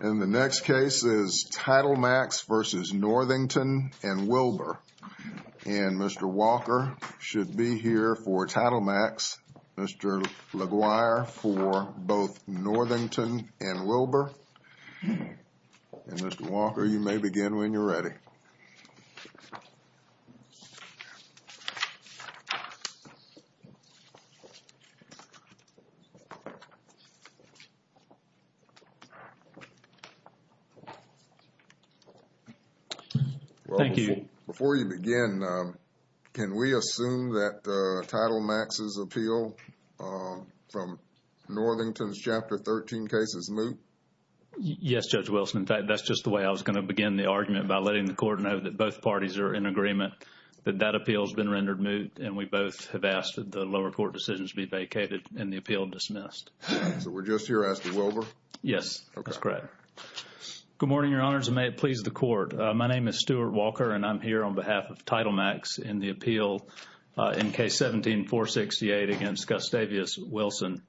And the next case is Title Max v. Northington and Wilber. And Mr. Walker should be here for Title Max. Mr. LaGuire for both Northington and Wilber. And Mr. Walker, you may begin when you're ready. Thank you. Before you begin, can we assume that Title Max's appeal from Northington's Chapter 13 case is moot? Yes, Judge Wilson. In fact, that's just the way I was going to begin the argument by letting the court know that both parties are in agreement that that appeal has been rendered moot. And we both have asked that the lower court decisions be vacated and the appeal dismissed. So we're just here asking Wilber? Yes, that's correct. Good morning, Your Honors, and may it please the Court. My name is Stuart Walker, and I'm here on behalf of Title Max in the appeal in Case 17-468 against Gustavius Wilson.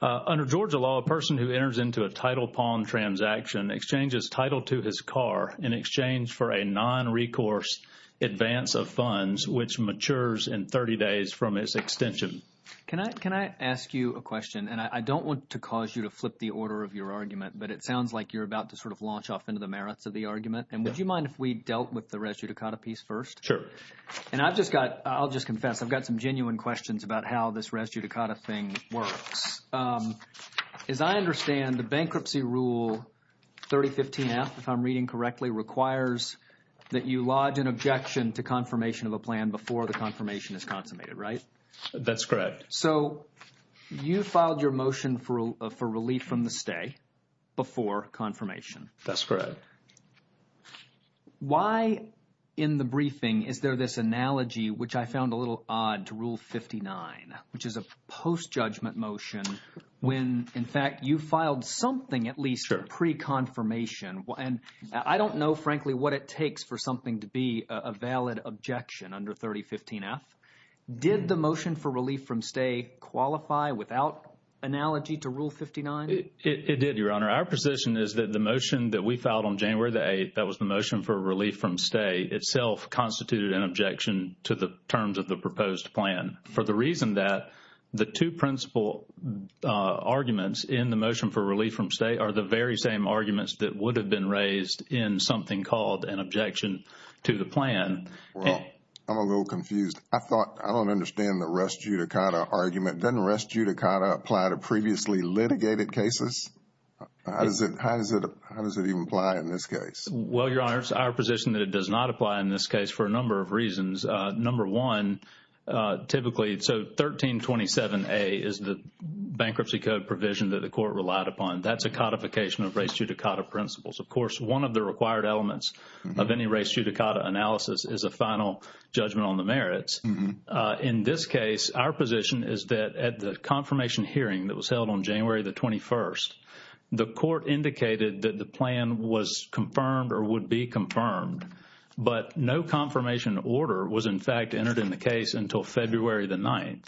Under Georgia law, a person who enters into a title pawn transaction exchanges title to his car in exchange for a nonrecourse advance of funds, which matures in 30 days from its extension. Can I ask you a question? And I don't want to cause you to flip the order of your argument, but it sounds like you're about to sort of launch off into the merits of the argument. And would you mind if we dealt with the res judicata piece first? Sure. And I've just got – I'll just confess, I've got some genuine questions about how this res judicata thing works. As I understand, the Bankruptcy Rule 3015-F, if I'm reading correctly, requires that you lodge an objection to confirmation of a plan before the confirmation is consummated, right? That's correct. So you filed your motion for relief from the stay before confirmation. That's correct. Why in the briefing is there this analogy, which I found a little odd, to Rule 59, which is a post-judgment motion when, in fact, you filed something at least pre-confirmation? And I don't know, frankly, what it takes for something to be a valid objection under 3015-F. Did the motion for relief from stay qualify without analogy to Rule 59? It did, Your Honor. Our position is that the motion that we filed on January the 8th, that was the motion for relief from stay, itself constituted an objection to the terms of the proposed plan, for the reason that the two principal arguments in the motion for relief from stay are the very same arguments that would have been raised in something called an objection to the plan. Well, I'm a little confused. I thought, I don't understand the rest judicata argument. Doesn't rest judicata apply to previously litigated cases? How does it even apply in this case? Well, Your Honor, it's our position that it does not apply in this case for a number of reasons. Number one, typically, so 1327A is the bankruptcy code provision that the court relied upon. That's a codification of rest judicata principles. Of course, one of the required elements of any rest judicata analysis is a final judgment on the merits. In this case, our position is that at the confirmation hearing that was held on January the 21st, the court indicated that the plan was confirmed or would be confirmed, but no confirmation order was, in fact, entered in the case until February the 9th.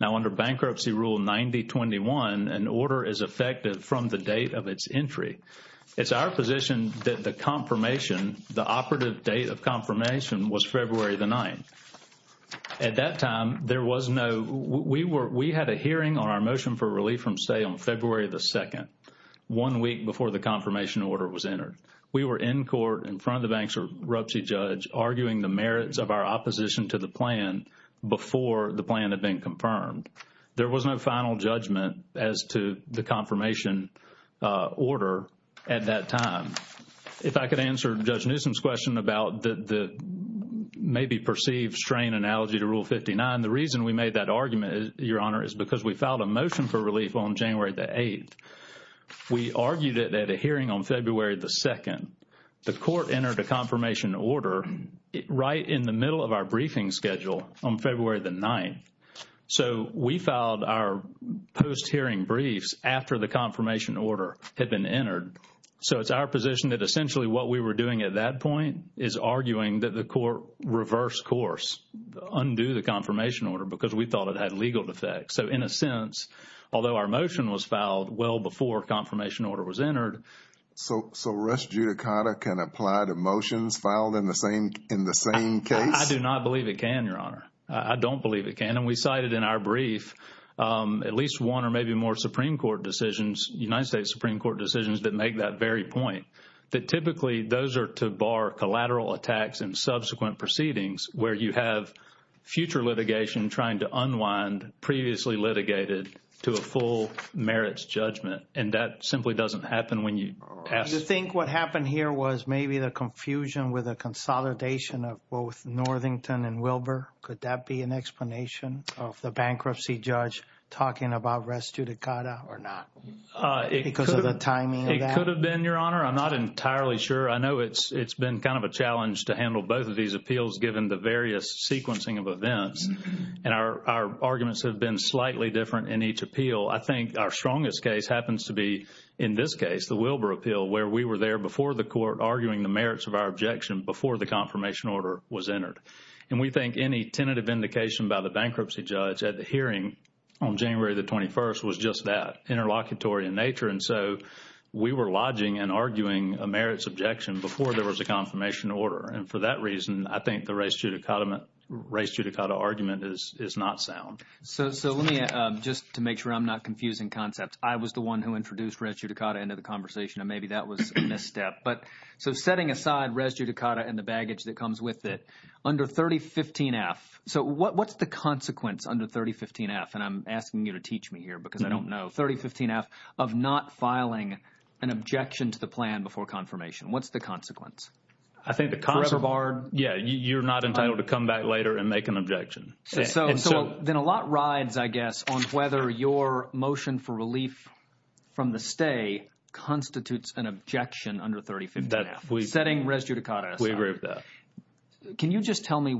Now, under Bankruptcy Rule 9021, an order is effective from the date of its entry. It's our position that the confirmation, the operative date of confirmation was February the 9th. At that time, there was no, we were, we had a hearing on our motion for relief from stay on February the 2nd, one week before the confirmation order was entered. We were in court in front of the bankruptcy judge arguing the merits of our opposition to the plan before the plan had been confirmed. There was no final judgment as to the confirmation order at that time. If I could answer Judge Newsom's question about the maybe perceived strain analogy to Rule 59. The reason we made that argument, Your Honor, is because we filed a motion for relief on January the 8th. We argued it at a hearing on February the 2nd. The court entered a confirmation order right in the middle of our briefing schedule on February the 9th. So, we filed our post-hearing briefs after the confirmation order had been entered. So, it's our position that essentially what we were doing at that point is arguing that the court reverse course, undo the confirmation order because we thought it had legal defects. So, in a sense, although our motion was filed well before confirmation order was entered. So, Russ Giudicata can apply to motions filed in the same case? I don't believe it can. And we cited in our brief at least one or maybe more Supreme Court decisions, United States Supreme Court decisions that make that very point. That typically those are to bar collateral attacks and subsequent proceedings where you have future litigation trying to unwind previously litigated to a full merits judgment. And that simply doesn't happen when you pass. Do you think what happened here was maybe the confusion with a consolidation of both Northington and Wilbur? Could that be an explanation of the bankruptcy judge talking about Russ Giudicata or not? Because of the timing of that? It could have been, Your Honor. I'm not entirely sure. I know it's been kind of a challenge to handle both of these appeals given the various sequencing of events. And our arguments have been slightly different in each appeal. I think our strongest case happens to be in this case, the Wilbur appeal, where we were there before the court arguing the merits of our objection before the confirmation order was entered. And we think any tentative indication by the bankruptcy judge at the hearing on January the 21st was just that, interlocutory in nature. And so we were lodging and arguing a merits objection before there was a confirmation order. And for that reason, I think the race Giudicata argument is not sound. So let me, just to make sure I'm not confusing concepts, I was the one who introduced Russ Giudicata into the conversation, and maybe that was a misstep. But so setting aside Russ Giudicata and the baggage that comes with it, under 3015F, so what's the consequence under 3015F? And I'm asking you to teach me here because I don't know. 3015F of not filing an objection to the plan before confirmation, what's the consequence? I think the consequence. Forever barred? Yeah, you're not entitled to come back later and make an objection. So then a lot rides, I guess, on whether your motion for relief from the stay constitutes an objection under 3015F, setting Russ Giudicata aside. We agree with that. Can you just tell me,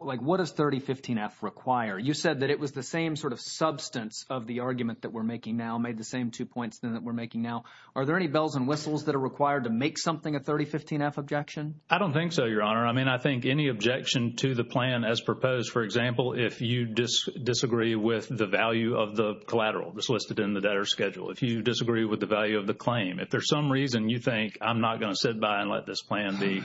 like, what does 3015F require? You said that it was the same sort of substance of the argument that we're making now, made the same two points that we're making now. Are there any bells and whistles that are required to make something a 3015F objection? I don't think so, Your Honor. I mean, I think any objection to the plan as proposed, for example, if you disagree with the value of the collateral that's listed in the debtor's schedule, if you disagree with the value of the claim, if there's some reason you think I'm not going to sit by and let this plan be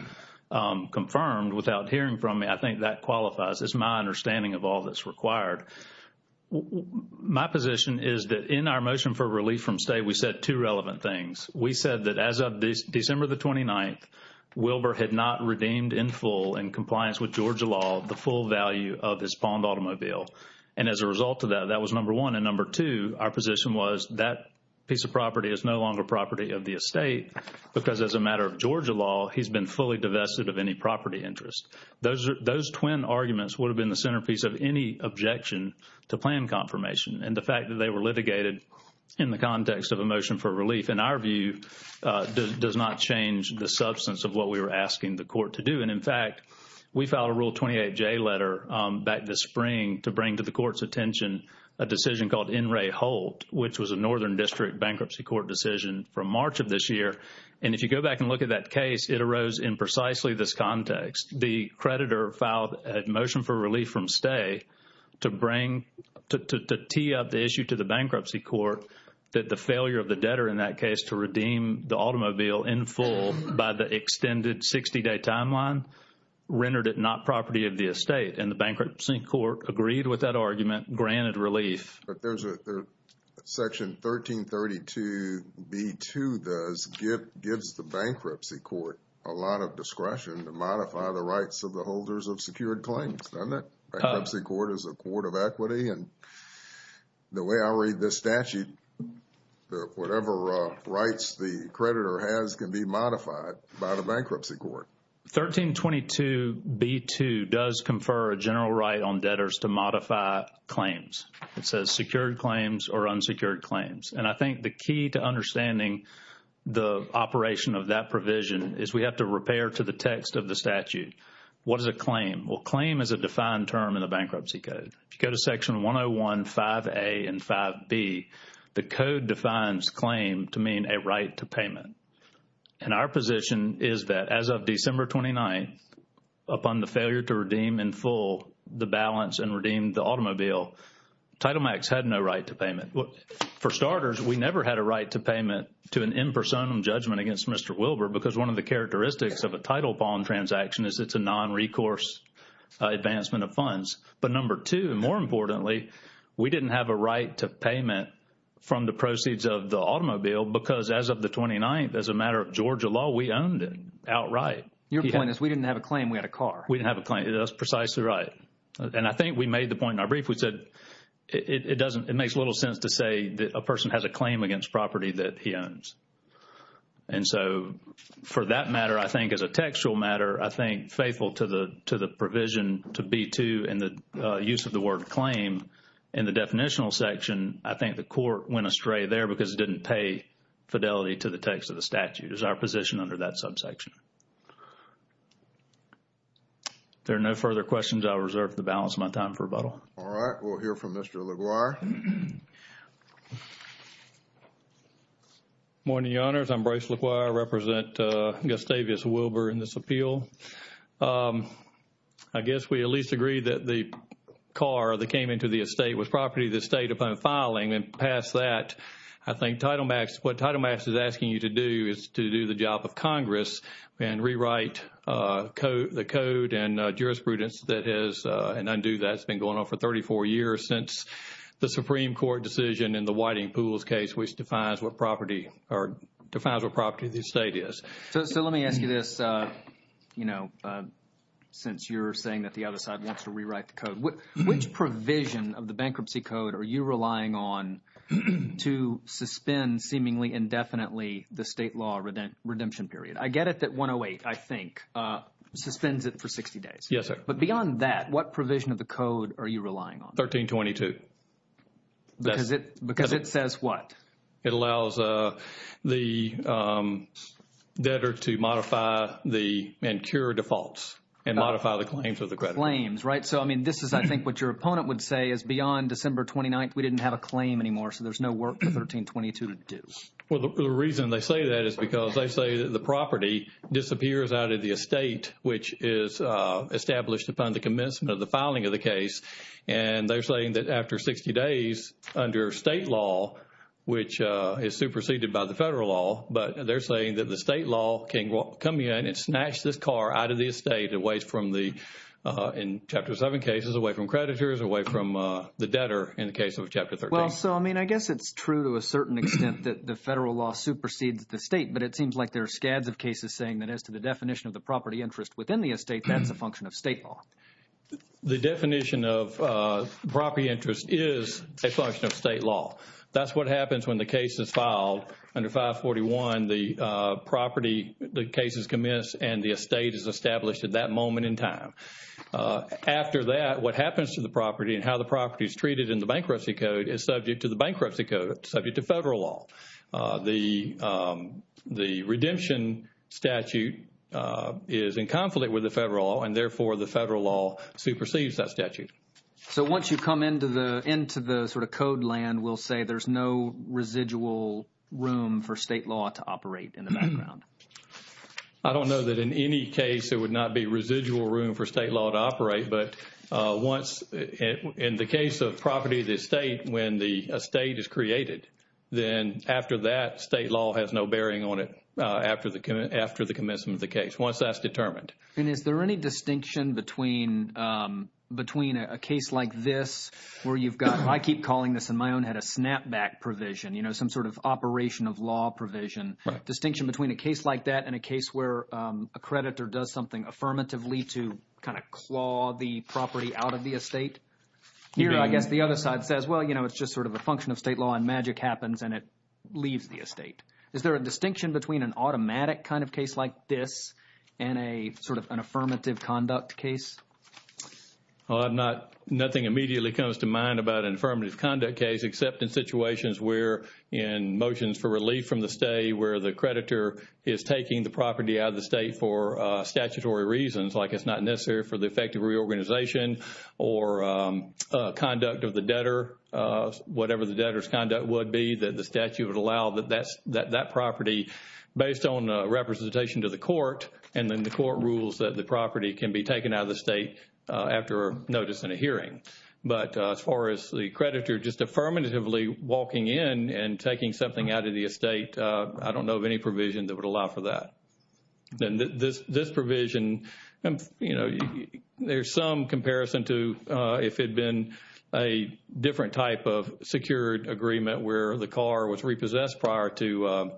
confirmed without hearing from me, I think that qualifies. It's my understanding of all that's required. My position is that in our motion for relief from stay, we said two relevant things. We said that as of December the 29th, Wilbur had not redeemed in full in compliance with Georgia law the full value of his Pond automobile. And as a result of that, that was number one. And number two, our position was that piece of property is no longer property of the estate because as a matter of Georgia law, he's been fully divested of any property interest. Those twin arguments would have been the centerpiece of any objection to plan confirmation. And the fact that they were litigated in the context of a motion for relief, in our view, does not change the substance of what we were asking the court to do. And, in fact, we filed a Rule 28J letter back this spring to bring to the court's attention a decision called NRA Holt, which was a Northern District Bankruptcy Court decision from March of this year. And if you go back and look at that case, it arose in precisely this context. The creditor filed a motion for relief from stay to bring, to tee up the issue to the bankruptcy court that the failure of the debtor in that case to redeem the automobile in full by the extended 60-day timeline rendered it not property of the estate. And the bankruptcy court agreed with that argument, granted relief. Section 1332B2 gives the bankruptcy court a lot of discretion to modify the rights of the holders of secured claims, doesn't it? Bankruptcy court is a court of equity. And the way I read this statute, whatever rights the creditor has can be modified by the bankruptcy court. 1322B2 does confer a general right on debtors to modify claims. It says secured claims or unsecured claims. And I think the key to understanding the operation of that provision is we have to repair to the text of the statute. What is a claim? Well, claim is a defined term in the bankruptcy code. If you go to Section 101, 5A and 5B, the code defines claim to mean a right to payment. And our position is that as of December 29th, upon the failure to redeem in full the balance and redeem the automobile, Title Max had no right to payment. For starters, we never had a right to payment to an impersonal judgment against Mr. Wilber because one of the characteristics of a title bond transaction is it's a nonrecourse advancement of funds. But number two, more importantly, we didn't have a right to payment from the proceeds of the automobile because as of the 29th, as a matter of Georgia law, we owned it outright. Your point is we didn't have a claim, we had a car. We didn't have a claim. That's precisely right. And I think we made the point in our brief. We said it makes little sense to say that a person has a claim against property that he owns. And so for that matter, I think as a textual matter, I think faithful to the provision to B2 and the use of the word claim in the definitional section, I think the court went astray there because it didn't pay fidelity to the text of the statute. It's our position under that subsection. If there are no further questions, I'll reserve the balance of my time for rebuttal. All right. We'll hear from Mr. LaGuarre. Good morning, Your Honors. I'm Bryce LaGuarre. I represent Gustavius Wilber in this appeal. I guess we at least agree that the car that came into the estate was property that stayed upon filing and passed that. I think Title Max, what Title Max is asking you to do is to do the job of Congress and rewrite the code and jurisprudence that has been undue. That's been going on for 34 years since the Supreme Court decision in the Whiting Pools case, which defines what property the estate is. So let me ask you this, you know, since you're saying that the other side wants to rewrite the code. Which provision of the bankruptcy code are you relying on to suspend seemingly indefinitely the state law redemption period? I get it that 108, I think, suspends it for 60 days. Yes, sir. But beyond that, what provision of the code are you relying on? 1322. Because it says what? It allows the debtor to modify and cure defaults and modify the claims of the creditors. Modify the claims, right? So, I mean, this is, I think, what your opponent would say is beyond December 29th, we didn't have a claim anymore. So there's no work for 1322 to do. Well, the reason they say that is because they say that the property disappears out of the estate, which is established upon the commencement of the filing of the case. And they're saying that after 60 days, under state law, which is superseded by the federal law, but they're saying that the state law can come in and snatch this car out of the estate away from the, in Chapter 7 cases, away from creditors, away from the debtor in the case of Chapter 13. Well, so, I mean, I guess it's true to a certain extent that the federal law supersedes the state, but it seems like there are scads of cases saying that as to the definition of the property interest within the estate, that's a function of state law. The definition of property interest is a function of state law. That's what happens when the case is filed under 541, the property, the case is commenced, and the estate is established at that moment in time. After that, what happens to the property and how the property is treated in the bankruptcy code is subject to the bankruptcy code, subject to federal law. The redemption statute is in conflict with the federal law, and therefore, the federal law supersedes that statute. So once you come into the sort of code land, we'll say there's no residual room for state law to operate in the background. I don't know that in any case there would not be residual room for state law to operate, but once, in the case of property of the estate, when the estate is created, then after that, state law has no bearing on it after the commencement of the case, once that's determined. And is there any distinction between a case like this where you've got – I keep calling this in my own head a snapback provision, some sort of operation of law provision, distinction between a case like that and a case where a creditor does something affirmatively to kind of claw the property out of the estate? Here, I guess the other side says, well, it's just sort of a function of state law, and magic happens, and it leaves the estate. Is there a distinction between an automatic kind of case like this and a sort of an affirmative conduct case? Well, I'm not – nothing immediately comes to mind about an affirmative conduct case, except in situations where in motions for relief from the state where the creditor is taking the property out of the state for statutory reasons, like it's not necessary for the effective reorganization or conduct of the debtor, whatever the debtor's conduct would be, that the statute would allow that that property, based on representation to the court, and then the court rules that the property can be taken out of the state after notice in a hearing. But as far as the creditor just affirmatively walking in and taking something out of the estate, I don't know of any provision that would allow for that. This provision, you know, there's some comparison to if it had been a different type of secured agreement where the car was repossessed prior to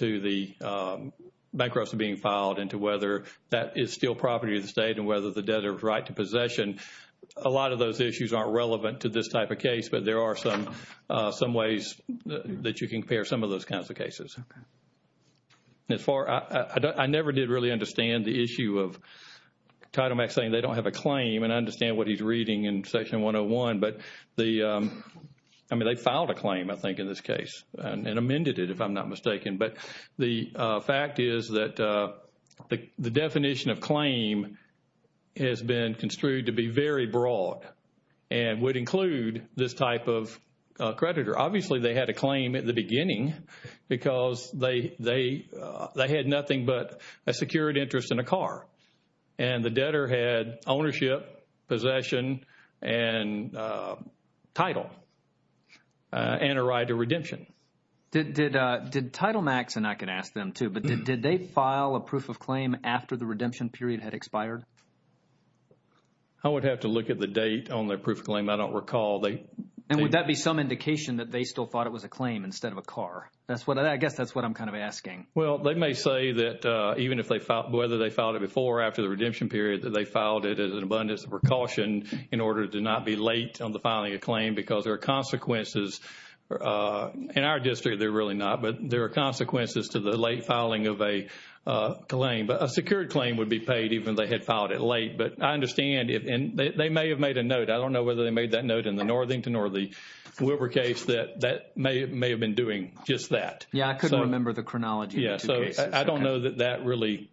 the bankruptcy being filed and to whether that is still property of the state and whether the debtor's right to possession. A lot of those issues aren't relevant to this type of case, but there are some ways that you can compare some of those kinds of cases. As far, I never did really understand the issue of Title Max saying they don't have a claim, and I understand what he's reading in Section 101. But the, I mean, they filed a claim, I think, in this case and amended it, if I'm not mistaken. But the fact is that the definition of claim has been construed to be very broad and would include this type of creditor. Obviously, they had a claim at the beginning because they had nothing but a secured interest in a car. And the debtor had ownership, possession, and title and a right to redemption. Did Title Max, and I can ask them too, but did they file a proof of claim after the redemption period had expired? I would have to look at the date on their proof of claim. I don't recall. And would that be some indication that they still thought it was a claim instead of a car? I guess that's what I'm kind of asking. Well, they may say that even if they filed, whether they filed it before or after the redemption period, that they filed it as an abundance of precaution in order to not be late on the filing of claim because there are consequences. In our district, they're really not, but there are consequences to the late filing of a claim. But a secured claim would be paid even if they had filed it late. But I understand, and they may have made a note. I don't know whether they made that note in the Northington or the Wilbur case that may have been doing just that. Yeah, I couldn't remember the chronology of the two cases. Yeah, so I don't know that that really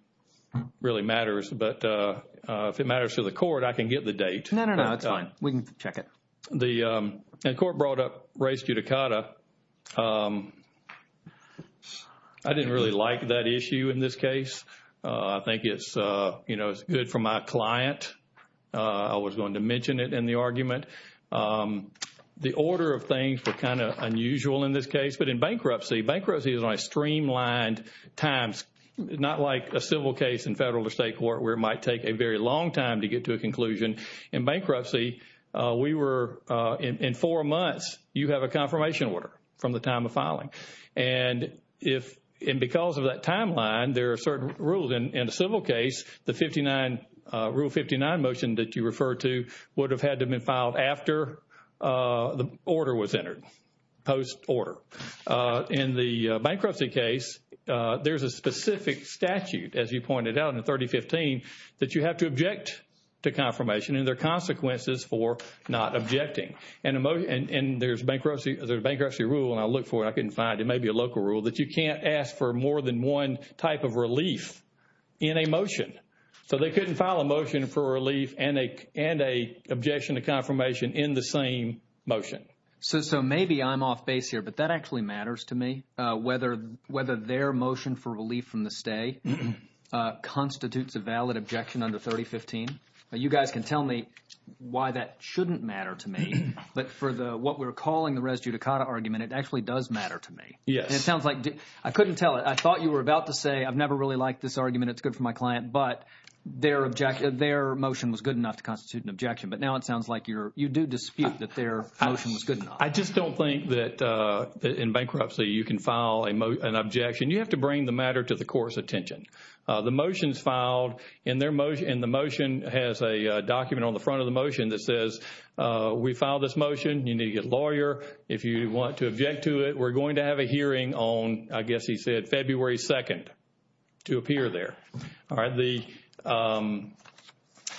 matters. But if it matters to the court, I can get the date. No, no, no, it's fine. We can check it. The court brought up res judicata. I didn't really like that issue in this case. I think it's good for my client. I was going to mention it in the argument. The order of things were kind of unusual in this case. But in bankruptcy, bankruptcy is like streamlined times, not like a civil case in federal or state court where it might take a very long time to get to a conclusion. In bankruptcy, we were in four months. You have a confirmation order from the time of filing. And because of that timeline, there are certain rules. In a civil case, the Rule 59 motion that you referred to would have had to have been filed after the order was entered, post-order. In the bankruptcy case, there's a specific statute, as you pointed out, in 3015, that you have to object to confirmation. And there are consequences for not objecting. And there's a bankruptcy rule, and I looked for it. I couldn't find it. It may be a local rule that you can't ask for more than one type of relief in a motion. So they couldn't file a motion for relief and an objection to confirmation in the same motion. So maybe I'm off base here, but that actually matters to me, whether their motion for relief from the stay constitutes a valid objection under 3015. You guys can tell me why that shouldn't matter to me. But for what we're calling the res judicata argument, it actually does matter to me. Yes. I couldn't tell it. I thought you were about to say, I've never really liked this argument. It's good for my client. But their motion was good enough to constitute an objection. But now it sounds like you do dispute that their motion was good enough. I just don't think that in bankruptcy you can file an objection. You have to bring the matter to the court's attention. The motion is filed and the motion has a document on the front of the motion that says we filed this motion. You need a lawyer if you want to object to it. We're going to have a hearing on, I guess he said, February 2nd to appear there. All right.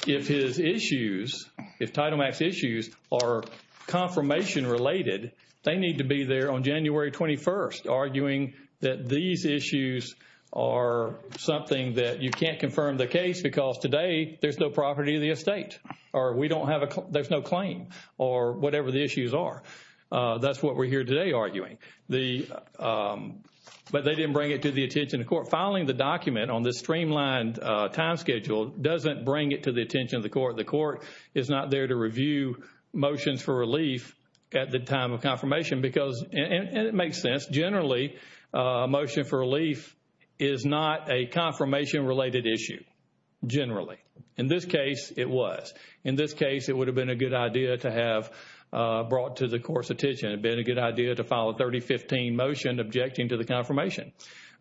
If his issues, if Title Max issues are confirmation related, they need to be there on January 21st, arguing that these issues are something that you can't confirm the case because today there's no property of the estate. Or we don't have a, there's no claim. Or whatever the issues are. That's what we're here today arguing. But they didn't bring it to the attention of the court. Filing the document on this streamlined time schedule doesn't bring it to the attention of the court. The court is not there to review motions for relief at the time of confirmation because, and it makes sense, generally a motion for relief is not a confirmation related issue, generally. In this case, it was. In this case, it would have been a good idea to have brought to the court's attention. It would have been a good idea to file a 3015 motion objecting to the confirmation.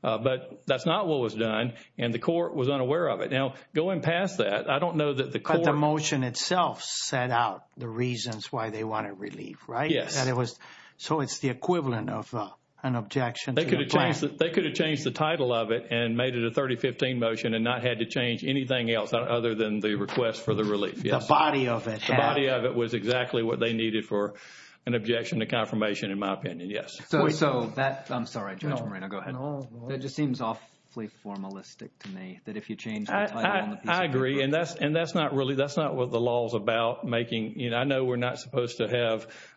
But that's not what was done. And the court was unaware of it. Now, going past that, I don't know that the court. But the motion itself set out the reasons why they wanted relief, right? Yes. So it's the equivalent of an objection. They could have changed the title of it and made it a 3015 motion and not had to change anything else other than the request for the relief. The body of it. That was exactly what they needed for an objection to confirmation, in my opinion. Yes. So that. I'm sorry, Judge Moreno. Go ahead. That just seems awfully formalistic to me that if you change the title on the piece of paper. I agree. And that's not really. That's not what the law is about making. I know we're not supposed to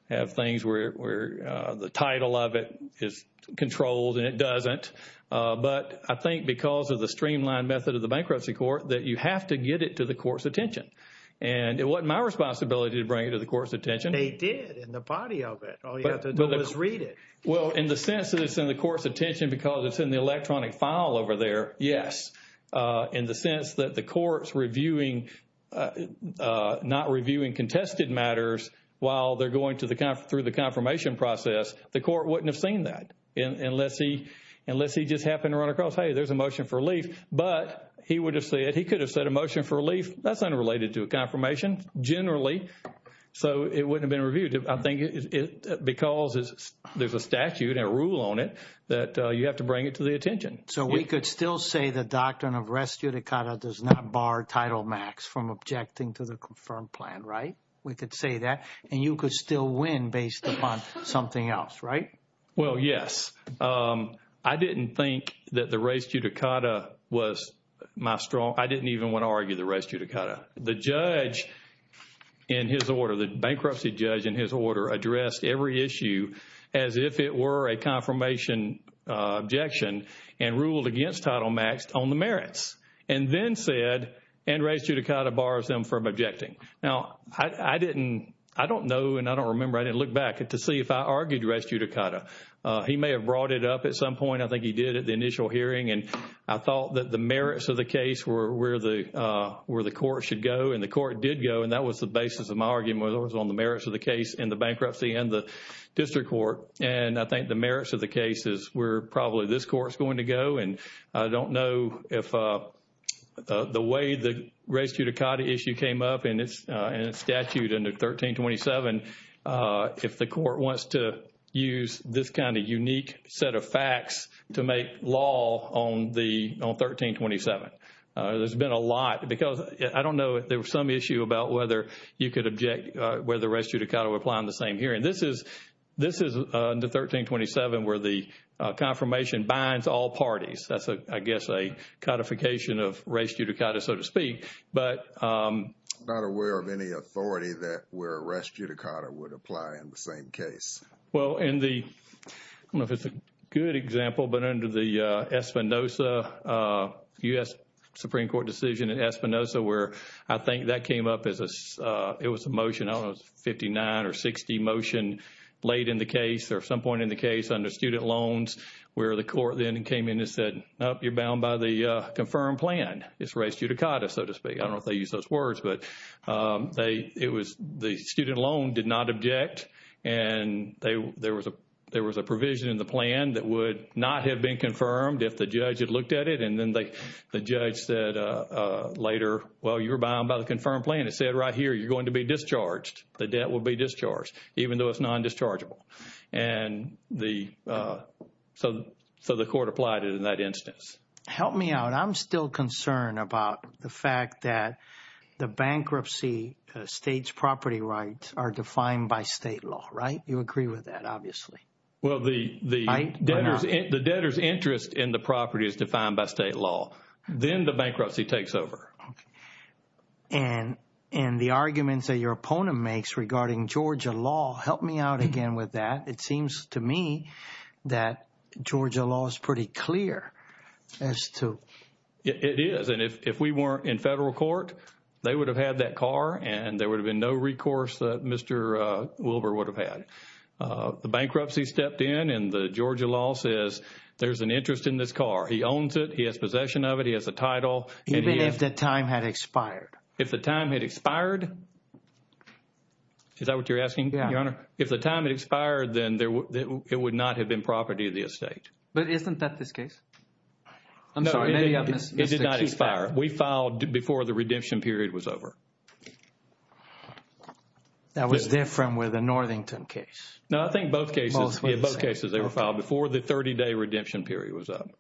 have things where the title of it is controlled and it doesn't. But I think because of the streamlined method of the bankruptcy court that you have to get it to the court's attention. And it wasn't my responsibility to bring it to the court's attention. They did in the body of it. All you have to do is read it. Well, in the sense that it's in the court's attention because it's in the electronic file over there. Yes. In the sense that the court's reviewing, not reviewing contested matters while they're going through the confirmation process. The court wouldn't have seen that unless he just happened to run across, hey, there's a motion for relief. But he would have said, he could have said a motion for relief. That's unrelated to a confirmation generally. So it wouldn't have been reviewed. I think because there's a statute and a rule on it that you have to bring it to the attention. So we could still say the doctrine of res judicata does not bar Title Max from objecting to the confirmed plan, right? We could say that. And you could still win based upon something else, right? Well, yes. I didn't think that the res judicata was my strong – I didn't even want to argue the res judicata. The judge in his order, the bankruptcy judge in his order addressed every issue as if it were a confirmation objection and ruled against Title Max on the merits. And then said, and res judicata bars them from objecting. Now, I didn't – I don't know and I don't remember. I didn't look back to see if I argued res judicata. He may have brought it up at some point. I think he did at the initial hearing. And I thought that the merits of the case were where the court should go. And the court did go. And that was the basis of my argument was on the merits of the case and the bankruptcy and the district court. And I think the merits of the case is where probably this court is going to go. And I don't know if the way the res judicata issue came up in its statute under 1327, if the court wants to use this kind of unique set of facts to make law on the – on 1327. There's been a lot because I don't know if there was some issue about whether you could object – whether res judicata would apply on the same hearing. This is – this is under 1327 where the confirmation binds all parties. That's, I guess, a codification of res judicata, so to speak. But – I'm not aware of any authority that where res judicata would apply in the same case. Well, in the – I don't know if it's a good example, but under the Espinosa – U.S. Supreme Court decision in Espinosa where I think that came up as a – late in the case or some point in the case under student loans where the court then came in and said, nope, you're bound by the confirmed plan. It's res judicata, so to speak. I don't know if they used those words, but they – it was – the student loan did not object. And they – there was a – there was a provision in the plan that would not have been confirmed if the judge had looked at it. And then they – the judge said later, well, you're bound by the confirmed plan. It said right here you're going to be discharged. The debt will be discharged even though it's non-dischargeable. And the – so the court applied it in that instance. Help me out. I'm still concerned about the fact that the bankruptcy state's property rights are defined by state law, right? You agree with that, obviously. Well, the debtor's interest in the property is defined by state law. Then the bankruptcy takes over. And the arguments that your opponent makes regarding Georgia law – help me out again with that. It seems to me that Georgia law is pretty clear as to – It is. And if we weren't in federal court, they would have had that car and there would have been no recourse that Mr. Wilbur would have had. The bankruptcy stepped in and the Georgia law says there's an interest in this car. He owns it. He has possession of it. He has a title. Even if the time had expired. If the time had expired? Is that what you're asking, Your Honor? If the time had expired, then it would not have been property of the estate. But isn't that this case? I'm sorry. It did not expire. We filed before the redemption period was over. That was different with the Northington case. No, I think both cases. Both were the same. Yeah, both cases they were filed before the 30-day redemption period was up.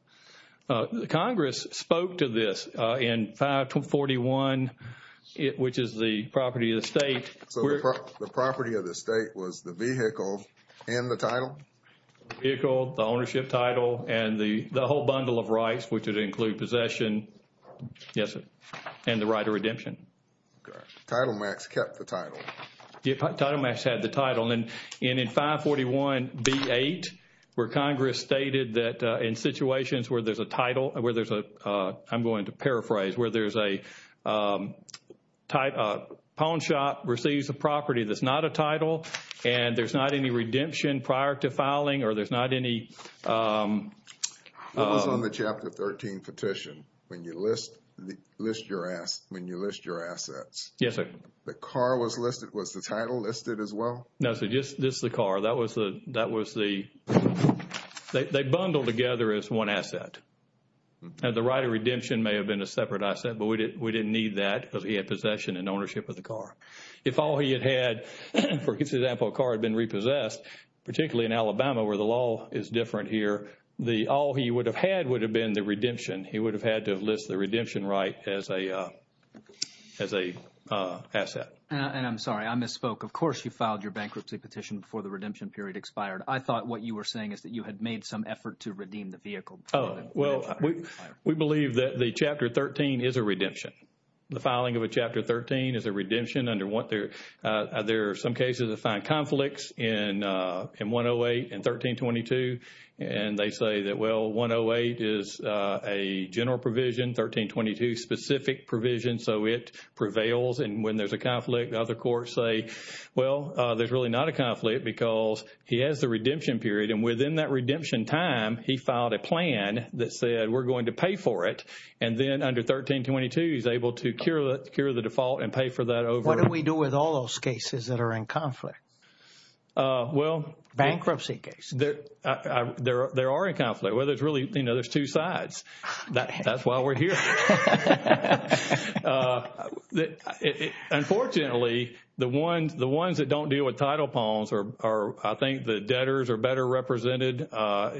Congress spoke to this in 541, which is the property of the estate. So the property of the estate was the vehicle and the title? Vehicle, the ownership title, and the whole bundle of rights, which would include possession, yes, and the right of redemption. Title Max kept the title. Title Max had the title. And in 541B8, where Congress stated that in situations where there's a title, where there's a, I'm going to paraphrase, where there's a pawn shop receives a property that's not a title, and there's not any redemption prior to filing, or there's not any. What was on the Chapter 13 petition when you list your assets? Yes, sir. The car was listed. Was the title listed as well? No, sir, just the car. That was the, they bundled together as one asset. And the right of redemption may have been a separate asset, but we didn't need that because he had possession and ownership of the car. If all he had had, for example, a car had been repossessed, particularly in Alabama where the law is different here, all he would have had would have been the redemption. He would have had to have listed the redemption right as a asset. And I'm sorry, I misspoke. Of course you filed your bankruptcy petition before the redemption period expired. I thought what you were saying is that you had made some effort to redeem the vehicle. Oh, well, we believe that the Chapter 13 is a redemption. The filing of a Chapter 13 is a redemption under what there are some cases of fine conflicts in 108 and 1322. And they say that, well, 108 is a general provision, 1322 specific provision, so it prevails. And when there's a conflict, the other courts say, well, there's really not a conflict because he has the redemption period. And within that redemption time, he filed a plan that said we're going to pay for it. And then under 1322, he's able to cure the default and pay for that over. What do we do with all those cases that are in conflict? Well. Bankruptcy cases. There are in conflict. Well, there's really, you know, there's two sides. That's why we're here. Unfortunately, the ones that don't deal with title palms are, I think, the debtors are better represented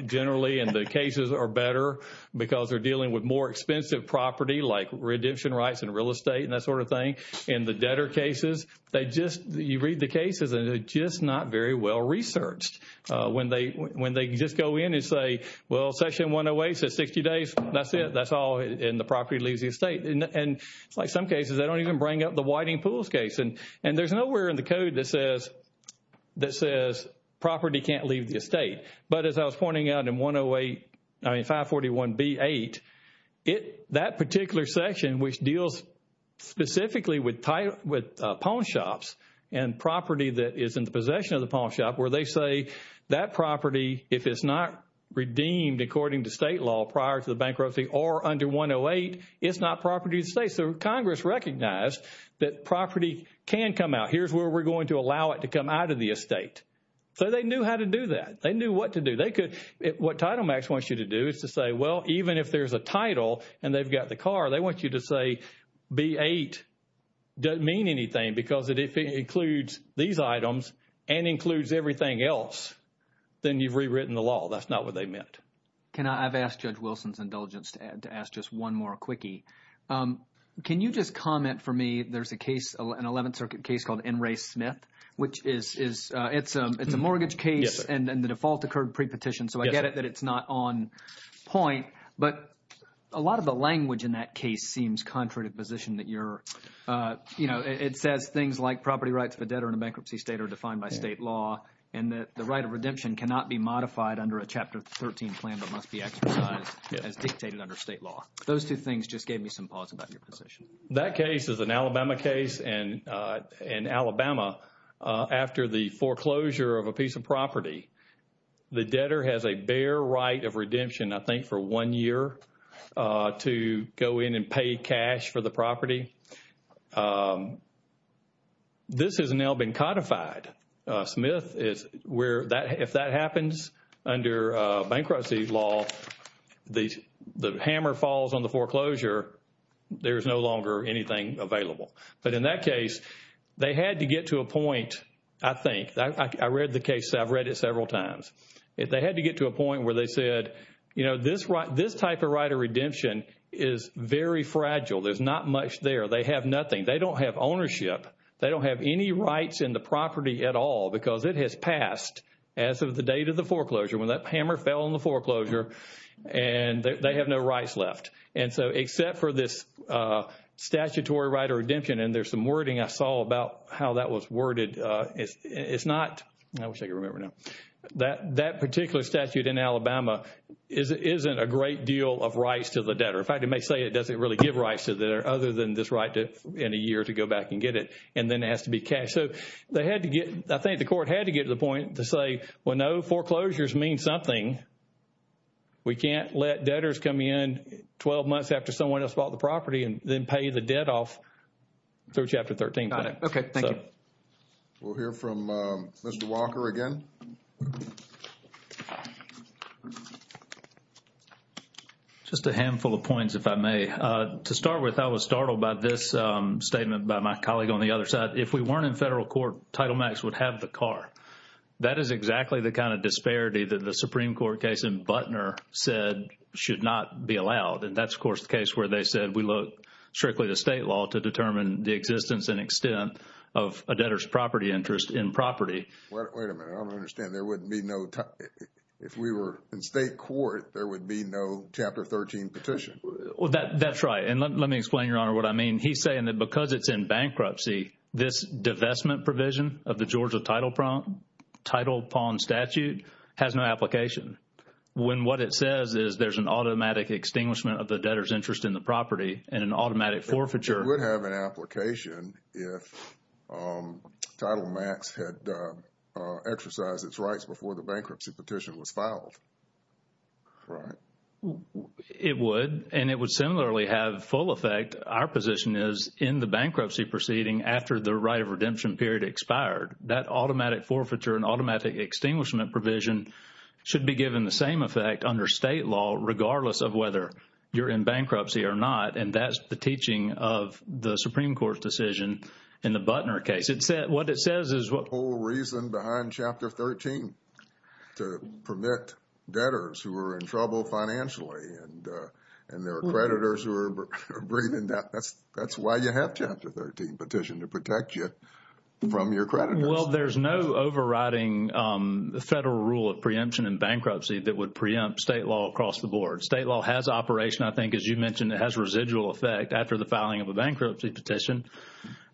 generally. And the cases are better because they're dealing with more expensive property like redemption rights and real estate and that sort of thing. And the debtor cases, they just, you read the cases and they're just not very well researched. When they just go in and say, well, section 108 says 60 days. That's it. That's all. And the property leaves the estate. And like some cases, they don't even bring up the Whiting Pools case. And there's nowhere in the code that says property can't leave the estate. But as I was pointing out in 108, I mean 541B8, that particular section, which deals specifically with palm shops and property that is in the possession of the palm shop, where they say that property, if it's not redeemed according to state law prior to the bankruptcy or under 108, it's not property of the state. So Congress recognized that property can come out. Here's where we're going to allow it to come out of the estate. So they knew how to do that. They knew what to do. They could, what TitleMax wants you to do is to say, well, even if there's a title and they've got the car, they want you to say B8 doesn't mean anything because if it includes these items and includes everything else, then you've rewritten the law. That's not what they meant. Can I – I've asked Judge Wilson's indulgence to ask just one more quickie. Can you just comment for me – there's a case, an 11th Circuit case called N. Ray Smith, which is – it's a mortgage case and the default occurred pre-petition. So I get it that it's not on point. But a lot of the language in that case seems contrary to the position that you're – it says things like property rights of a debtor in a bankruptcy state are defined by state law and that the right of redemption cannot be modified under a Chapter 13 plan but must be exercised as dictated under state law. Those two things just gave me some pause about your position. That case is an Alabama case and Alabama, after the foreclosure of a piece of property, the debtor has a bare right of redemption, I think, for one year to go in and pay cash for the property. This has now been codified. Smith is – if that happens under bankruptcy law, the hammer falls on the foreclosure, there's no longer anything available. But in that case, they had to get to a point, I think – I read the case. I've read it several times. They had to get to a point where they said, you know, this type of right of redemption is very fragile. There's not much there. They have nothing. They don't have ownership. They don't have any rights in the property at all because it has passed as of the date of the foreclosure, when that hammer fell on the foreclosure, and they have no rights left. And so except for this statutory right of redemption – and there's some wording I saw about how that was worded. It's not – I wish I could remember now. That particular statute in Alabama isn't a great deal of rights to the debtor. In fact, it may say it doesn't really give rights to the debtor other than this right in a year to go back and get it, and then it has to be cashed. So they had to get – I think the court had to get to the point to say, well, no, foreclosures mean something. We can't let debtors come in 12 months after someone else bought the property and then pay the debt off through Chapter 13. Got it. Okay, thank you. We'll hear from Mr. Walker again. Just a handful of points, if I may. To start with, I was startled by this statement by my colleague on the other side. If we weren't in federal court, Title Max would have the car. That is exactly the kind of disparity that the Supreme Court case in Butner said should not be allowed. And that's, of course, the case where they said we look strictly to state law to determine the existence and extent of a debtor's property interest in property. Wait a minute. I don't understand. There wouldn't be no – if we were in state court, there would be no Chapter 13 petition. That's right. And let me explain, Your Honor, what I mean. He's saying that because it's in bankruptcy, this divestment provision of the Georgia Title Pond Statute has no application. When what it says is there's an automatic extinguishment of the debtor's interest in the property and an automatic forfeiture. It would have an application if Title Max had exercised its rights before the bankruptcy petition was filed, right? It would, and it would similarly have full effect, our position is, in the bankruptcy proceeding after the right of redemption period expired. That automatic forfeiture and automatic extinguishment provision should be given the same effect under state law regardless of whether you're in bankruptcy or not. And that's the teaching of the Supreme Court's decision in the Butner case. What it says is – The whole reason behind Chapter 13, to permit debtors who are in trouble financially and their creditors who are bringing – that's why you have Chapter 13 petition, to protect you from your creditors. Well, there's no overriding federal rule of preemption in bankruptcy that would preempt state law across the board. State law has operation, I think, as you mentioned, it has residual effect after the filing of a bankruptcy petition.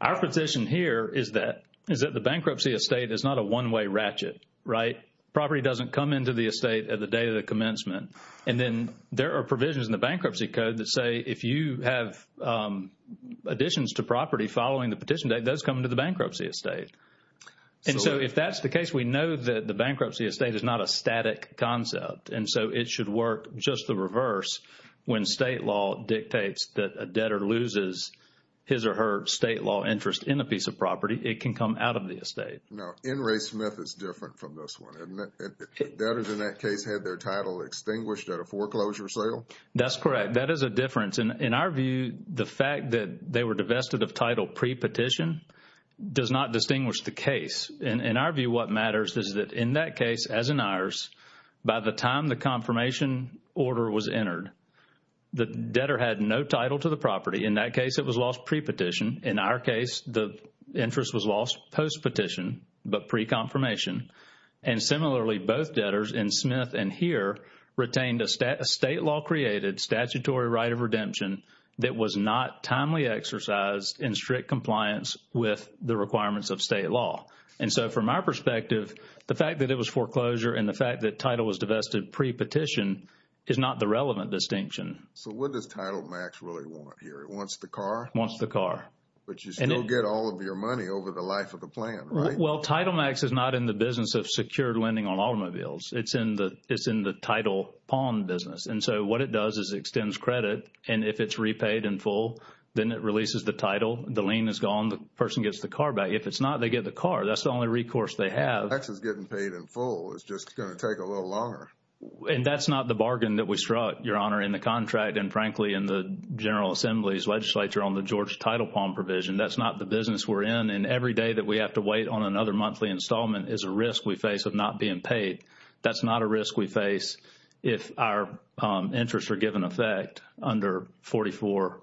Our position here is that the bankruptcy estate is not a one-way ratchet, right? Property doesn't come into the estate at the day of the commencement. And then there are provisions in the bankruptcy code that say if you have additions to property following the petition date, those come to the bankruptcy estate. And so if that's the case, we know that the bankruptcy estate is not a static concept. And so it should work just the reverse when state law dictates that a debtor loses his or her state law interest in a piece of property. It can come out of the estate. Now, N. Ray Smith is different from this one, isn't it? Debtors in that case had their title extinguished at a foreclosure sale. That's correct. That is a difference. In our view, the fact that they were divested of title pre-petition does not distinguish the case. In our view, what matters is that in that case, as in ours, by the time the confirmation order was entered, the debtor had no title to the property. In that case, it was lost pre-petition. In our case, the interest was lost post-petition but pre-confirmation. And similarly, both debtors in Smith and here retained a state law-created statutory right of redemption that was not timely exercised in strict compliance with the requirements of state law. And so from our perspective, the fact that it was foreclosure and the fact that title was divested pre-petition is not the relevant distinction. So what does Title Max really want here? It wants the car? It wants the car. But you still get all of your money over the life of the plan, right? Well, Title Max is not in the business of secured lending on automobiles. It's in the title pawn business. And so what it does is it extends credit. And if it's repaid in full, then it releases the title. The lien is gone. The person gets the car back. If it's not, they get the car. That's the only recourse they have. Tax is getting paid in full. It's just going to take a little longer. And that's not the bargain that we struck, Your Honor, in the contract and, frankly, in the General Assembly's legislature on the Georgia title pawn provision. That's not the business we're in. And every day that we have to wait on another monthly installment is a risk we face of not being paid. That's not a risk we face if our interests are given effect under 44.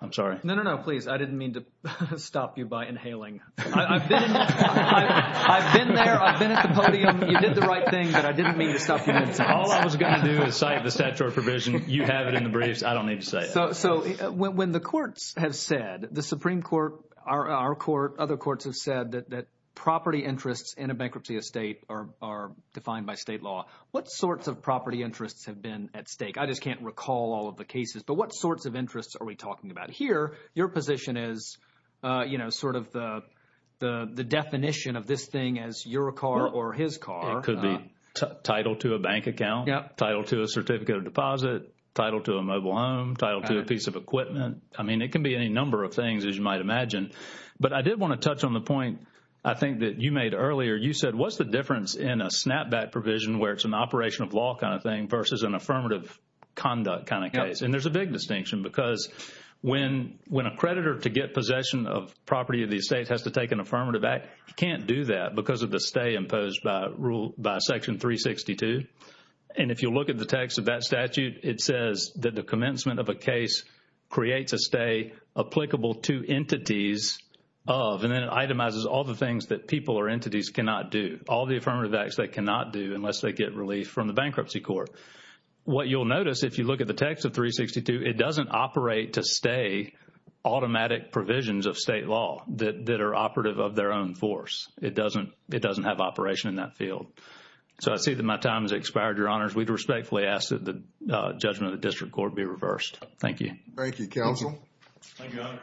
I'm sorry. No, no, no, please. I didn't mean to stop you by inhaling. I've been there. I've been at the podium. You did the right thing, but I didn't mean to stop you. All I was going to do is cite the statutory provision. You have it in the briefs. I don't need to say it. So when the courts have said, the Supreme Court, our court, other courts have said that property interests in a bankruptcy estate are defined by state law. What sorts of property interests have been at stake? I just can't recall all of the cases, but what sorts of interests are we talking about? Here your position is, you know, sort of the definition of this thing as your car or his car. It could be title to a bank account, title to a certificate of deposit, title to a mobile home, title to a piece of equipment. I mean, it can be any number of things, as you might imagine. But I did want to touch on the point I think that you made earlier. You said, what's the difference in a snapback provision where it's an operation of law kind of thing versus an affirmative conduct kind of case? And there's a big distinction because when a creditor to get possession of property of the estate has to take an affirmative act, he can't do that because of the stay imposed by Section 362. And if you look at the text of that statute, it says that the commencement of a case creates a stay applicable to entities of, and then it itemizes all the things that people or entities cannot do, all the affirmative acts they cannot do unless they get relief from the bankruptcy court. What you'll notice if you look at the text of 362, it doesn't operate to stay automatic provisions of state law that are operative of their own force. It doesn't have operation in that field. So, I see that my time has expired, Your Honors. We'd respectfully ask that the judgment of the District Court be reversed. Thank you. Thank you, Counsel. Thank you, Honor.